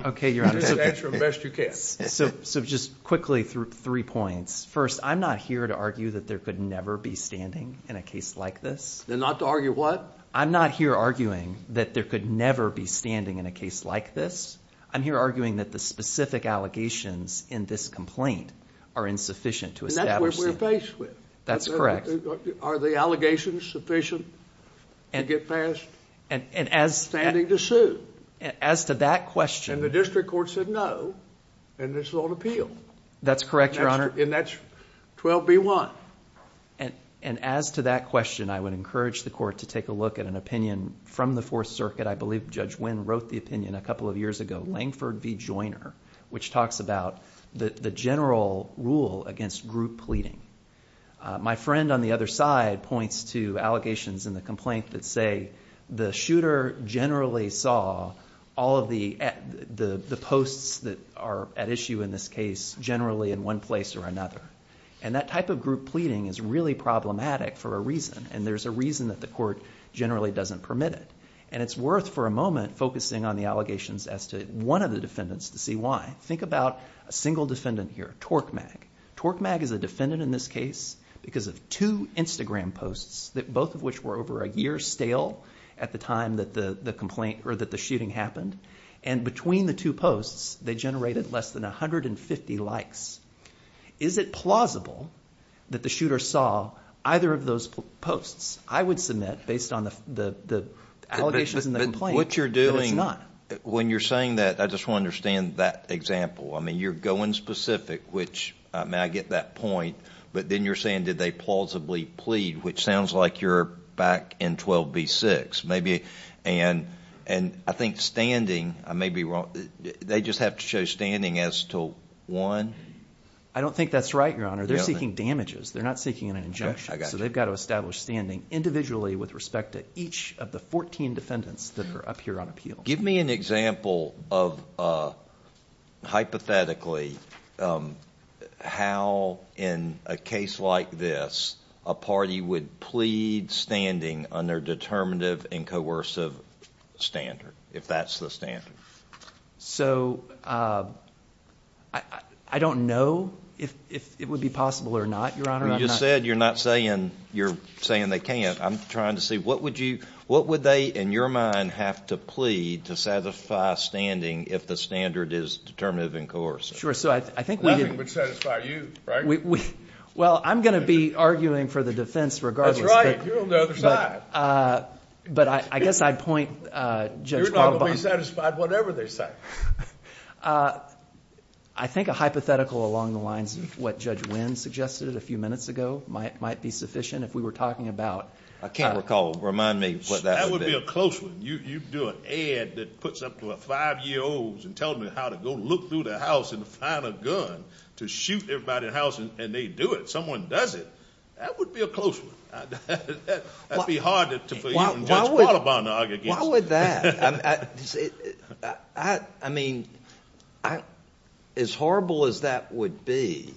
Okay, Your Honor. Just answer them best you can. So just quickly through three points. First, I'm not here to argue that there could never be standing in a case like this. Then not to argue what? I'm not here arguing that there could never be standing in a case like this. I'm here arguing that the specific allegations in this complaint are insufficient to establish. And that's what we're faced with. That's correct. Are the allegations sufficient to get past standing to sue? As to that question. And the district court said no. And this is on appeal. That's correct, Your Honor. And that's 12 v. 1. And as to that question, I would encourage the court to take a look at an opinion from the Fourth Circuit. I believe Judge Wynn wrote the opinion a couple of years ago, Langford v. Joyner, which talks about the general rule against group pleading. My friend on the other side points to allegations in the complaint that say the shooter generally saw all of the posts that are at issue in this case generally in one place or another. And that type of group pleading is really problematic for a reason. And there's a reason that the court generally doesn't permit it. And it's worth for a moment focusing on the allegations as to one of the defendants to see why. Think about a single defendant here, Torkmag. Torkmag is a defendant in this case because of two Instagram posts, both of which were over a year stale at the time that the shooting happened. And between the two posts, they generated less than 150 likes. Is it plausible that the shooter saw either of those posts? I would submit, based on the allegations in the complaint, that it's not. When you're saying that, I just want to understand that example. I mean, you're going specific, which, I mean, I get that point. But then you're saying did they plausibly plead, which sounds like you're back in 12B-6. And I think standing, I may be wrong, they just have to show standing as to one? I don't think that's right, Your Honor. They're seeking damages. They're not seeking an injunction. So they've got to establish standing individually with respect to each of the 14 defendants that are up here on appeal. Give me an example of hypothetically how, in a case like this, a party would plead standing under determinative and coercive standard, if that's the standard. So I don't know if it would be possible or not, Your Honor. You just said you're not saying they can't. I'm trying to see, what would they, in your mind, have to plead to satisfy standing if the standard is determinative and coercive? Sure. Nothing would satisfy you, right? Well, I'm going to be arguing for the defense regardless. That's right. You're on the other side. But I guess I'd point Judge Wambach. You're not going to be satisfied whatever they say. I think a hypothetical along the lines of what Judge Wynn suggested a few minutes ago might be sufficient. If we were talking about ---- I can't recall. Remind me what that would be. That would be a close one. You do an ad that puts up to five-year-olds and tells them how to go look through the house and find a gun to shoot everybody in the house, and they do it. Someone does it. That would be a close one. That would be hard for you and Judge Qualabong to argue against. Why would that? I mean, as horrible as that would be,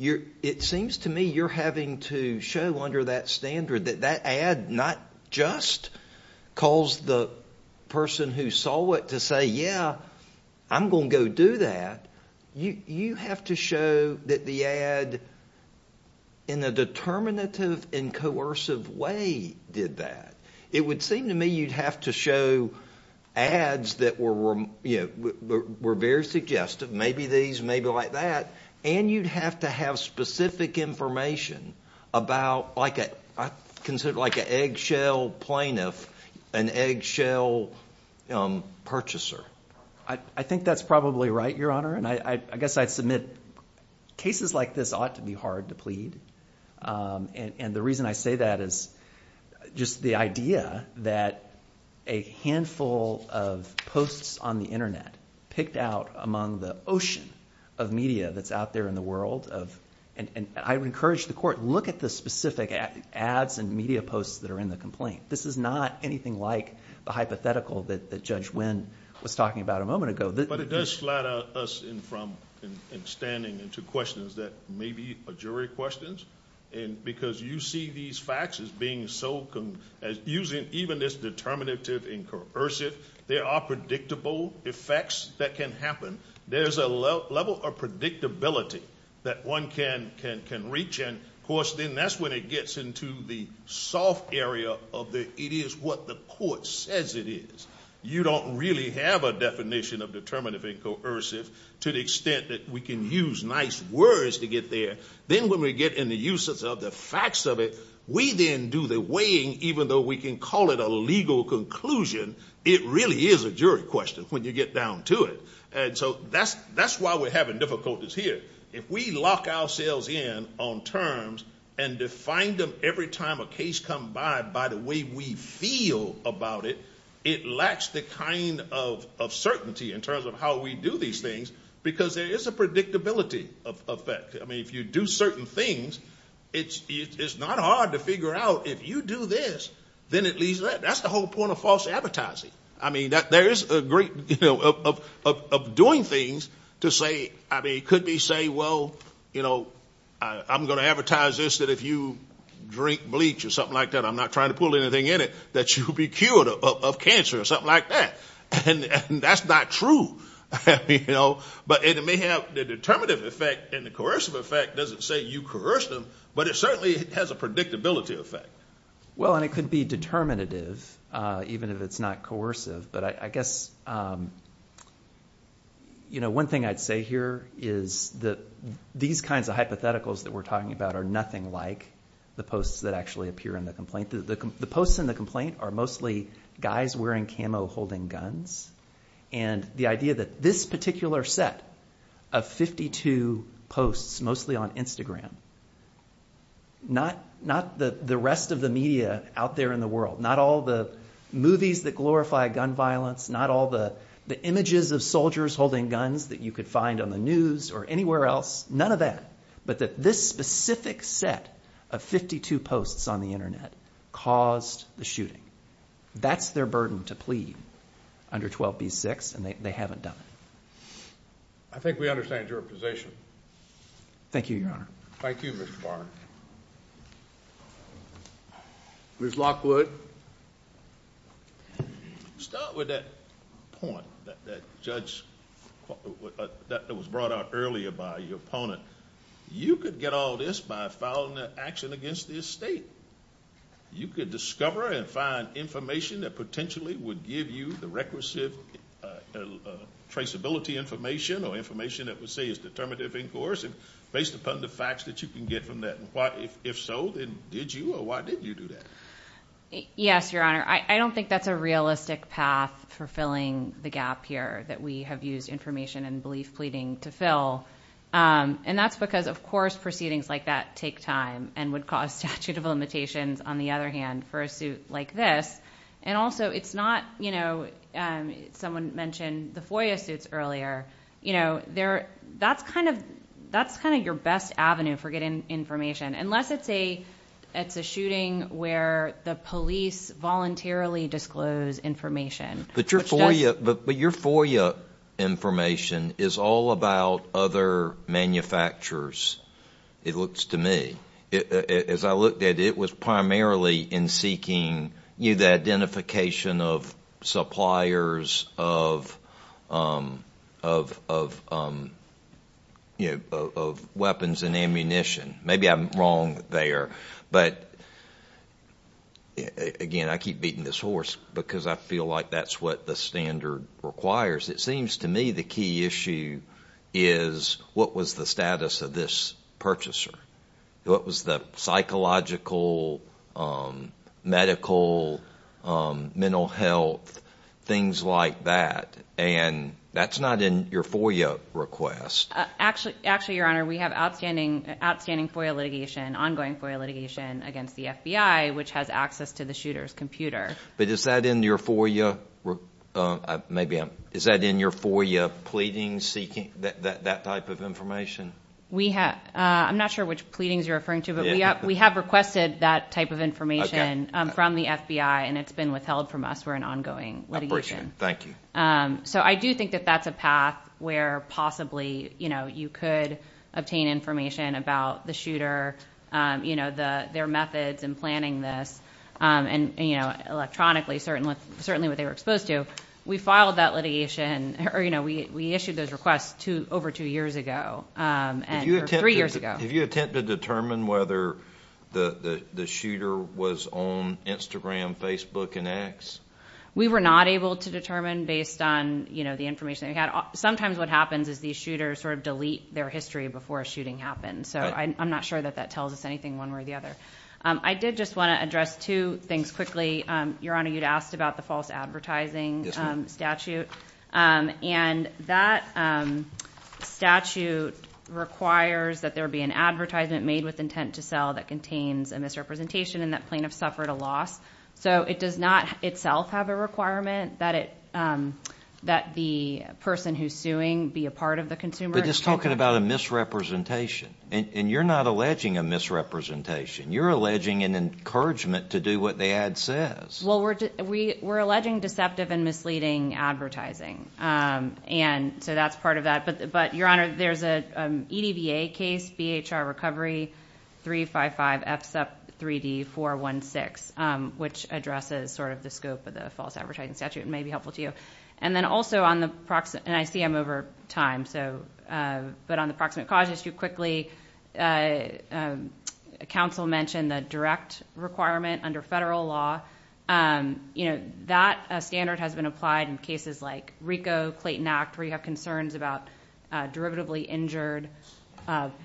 it seems to me you're having to show under that standard that that ad not just calls the person who saw it to say, yeah, I'm going to go do that. You have to show that the ad in a determinative and coercive way did that. It would seem to me you'd have to show ads that were very suggestive, maybe these, maybe like that, and you'd have to have specific information about like an eggshell plaintiff, an eggshell purchaser. I think that's probably right, Your Honor, and I guess I'd submit cases like this ought to be hard to plead. The reason I say that is just the idea that a handful of posts on the Internet picked out among the ocean of media that's out there in the world. I would encourage the court, look at the specific ads and media posts that are in the complaint. This is not anything like the hypothetical that Judge Wynn was talking about a moment ago. But it does flatter us in from and standing into questions that may be a jury questions, and because you see these facts as being so, as using even this determinative and coercive, there are predictable effects that can happen. There's a level of predictability that one can reach, and of course, then that's when it gets into the soft area of the it is what the court says it is. You don't really have a definition of determinative and coercive to the extent that we can use nice words to get there. Then when we get in the uses of the facts of it, we then do the weighing, even though we can call it a legal conclusion. It really is a jury question when you get down to it, and so that's why we're having difficulties here. If we lock ourselves in on terms and define them every time a case comes by by the way we feel about it, it lacks the kind of certainty in terms of how we do these things because there is a predictability effect. I mean, if you do certain things, it's not hard to figure out if you do this, then at least that's the whole point of false advertising. I mean, there is a great, you know, of doing things to say, I mean, it could be say, well, you know, I'm going to advertise this that if you drink bleach or something like that, I'm not trying to pull anything in it, that you'll be cured of cancer or something like that. And that's not true. But it may have the determinative effect and the coercive effect doesn't say you coerced them, but it certainly has a predictability effect. Well, and it could be determinative even if it's not coercive. But I guess, you know, one thing I'd say here is that these kinds of hypotheticals that we're talking about are nothing like the posts that actually appear in the complaint. The posts in the complaint are mostly guys wearing camo holding guns, and the idea that this particular set of 52 posts, mostly on Instagram, not the rest of the media out there in the world, not all the movies that glorify gun violence, not all the images of soldiers holding guns that you could find on the news or anywhere else, none of that, but that this specific set of 52 posts on the Internet caused the shooting. That's their burden to plead under 12b-6, and they haven't done it. I think we understand your position. Thank you, Your Honor. Thank you, Mr. Barnett. Ms. Lockwood. Start with that point, that judge, that was brought out earlier by your opponent. You could get all this by filing an action against the estate. You could discover and find information that potentially would give you the requisite traceability information or information that would say it's determinative in course based upon the facts that you can get from that. If so, then did you or why did you do that? Yes, Your Honor. I don't think that's a realistic path for filling the gap here that we have used information and belief pleading to fill, and that's because, of course, proceedings like that take time and would cause statute of limitations, on the other hand, for a suit like this, and also it's not, you know, someone mentioned the FOIA suits earlier. You know, that's kind of your best avenue for getting information, unless it's a shooting where the police voluntarily disclose information. But your FOIA information is all about other manufacturers, it looks to me. As I looked at it, it was primarily in seeking the identification of suppliers of weapons and ammunition. Maybe I'm wrong there. But, again, I keep beating this horse because I feel like that's what the standard requires. It seems to me the key issue is what was the status of this purchaser? What was the psychological, medical, mental health, things like that? And that's not in your FOIA request. Actually, Your Honor, we have outstanding FOIA litigation, ongoing FOIA litigation against the FBI, which has access to the shooter's computer. But is that in your FOIA pleading seeking, that type of information? I'm not sure which pleadings you're referring to, but we have requested that type of information from the FBI, and it's been withheld from us. We're in ongoing litigation. Thank you. So I do think that that's a path where possibly you could obtain information about the shooter, their methods in planning this, and electronically, certainly what they were exposed to. We filed that litigation, or we issued those requests over two years ago, or three years ago. Did you attempt to determine whether the shooter was on Instagram, Facebook, and X? We were not able to determine based on the information that we had. Sometimes what happens is these shooters sort of delete their history before a shooting happens. So I'm not sure that that tells us anything one way or the other. I did just want to address two things quickly. Your Honor, you'd asked about the false advertising statute, and that statute requires that there be an advertisement made with intent to sell that contains a misrepresentation and that plaintiff suffered a loss. So it does not itself have a requirement that the person who's suing be a part of the consumer. But it's talking about a misrepresentation, and you're not alleging a misrepresentation. You're alleging an encouragement to do what the ad says. Well, we're alleging deceptive and misleading advertising, and so that's part of that. But, Your Honor, there's an EDBA case, BHR Recovery 355 FSEP 3D 416, which addresses sort of the scope of the false advertising statute and may be helpful to you. And then also on the – and I see I'm over time – but on the proximate cause issue, quickly, counsel mentioned the direct requirement under federal law. You know, that standard has been applied in cases like RICO, Clayton Act, where you have concerns about derivatively injured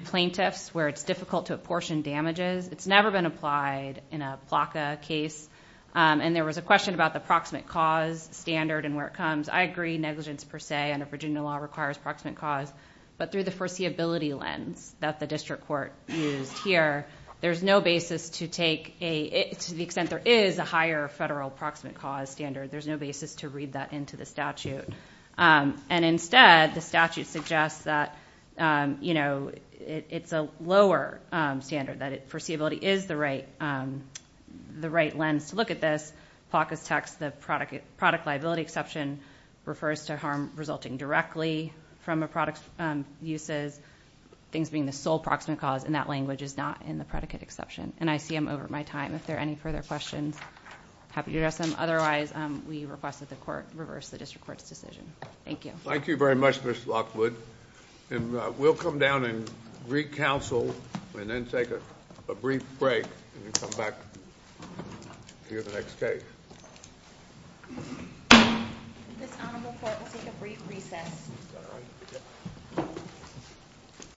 plaintiffs where it's difficult to apportion damages. It's never been applied in a PLACA case. And there was a question about the proximate cause standard and where it comes. I agree negligence per se under Virginia law requires proximate cause, but through the foreseeability lens that the district court used here, there's no basis to take a – to the extent there is a higher federal proximate cause standard, there's no basis to read that into the statute. And instead, the statute suggests that, you know, it's a lower standard, that foreseeability is the right lens to look at this. PLACA's text, the product liability exception, refers to harm resulting directly from a product's uses, things being the sole proximate cause, and that language is not in the predicate exception. And I see I'm over my time. If there are any further questions, happy to address them. Otherwise, we request that the court reverse the district court's decision. Thank you. Thank you very much, Ms. Lockwood. And we'll come down and re-counsel and then take a brief break and come back to hear the next case. This honorable court will take a brief recess.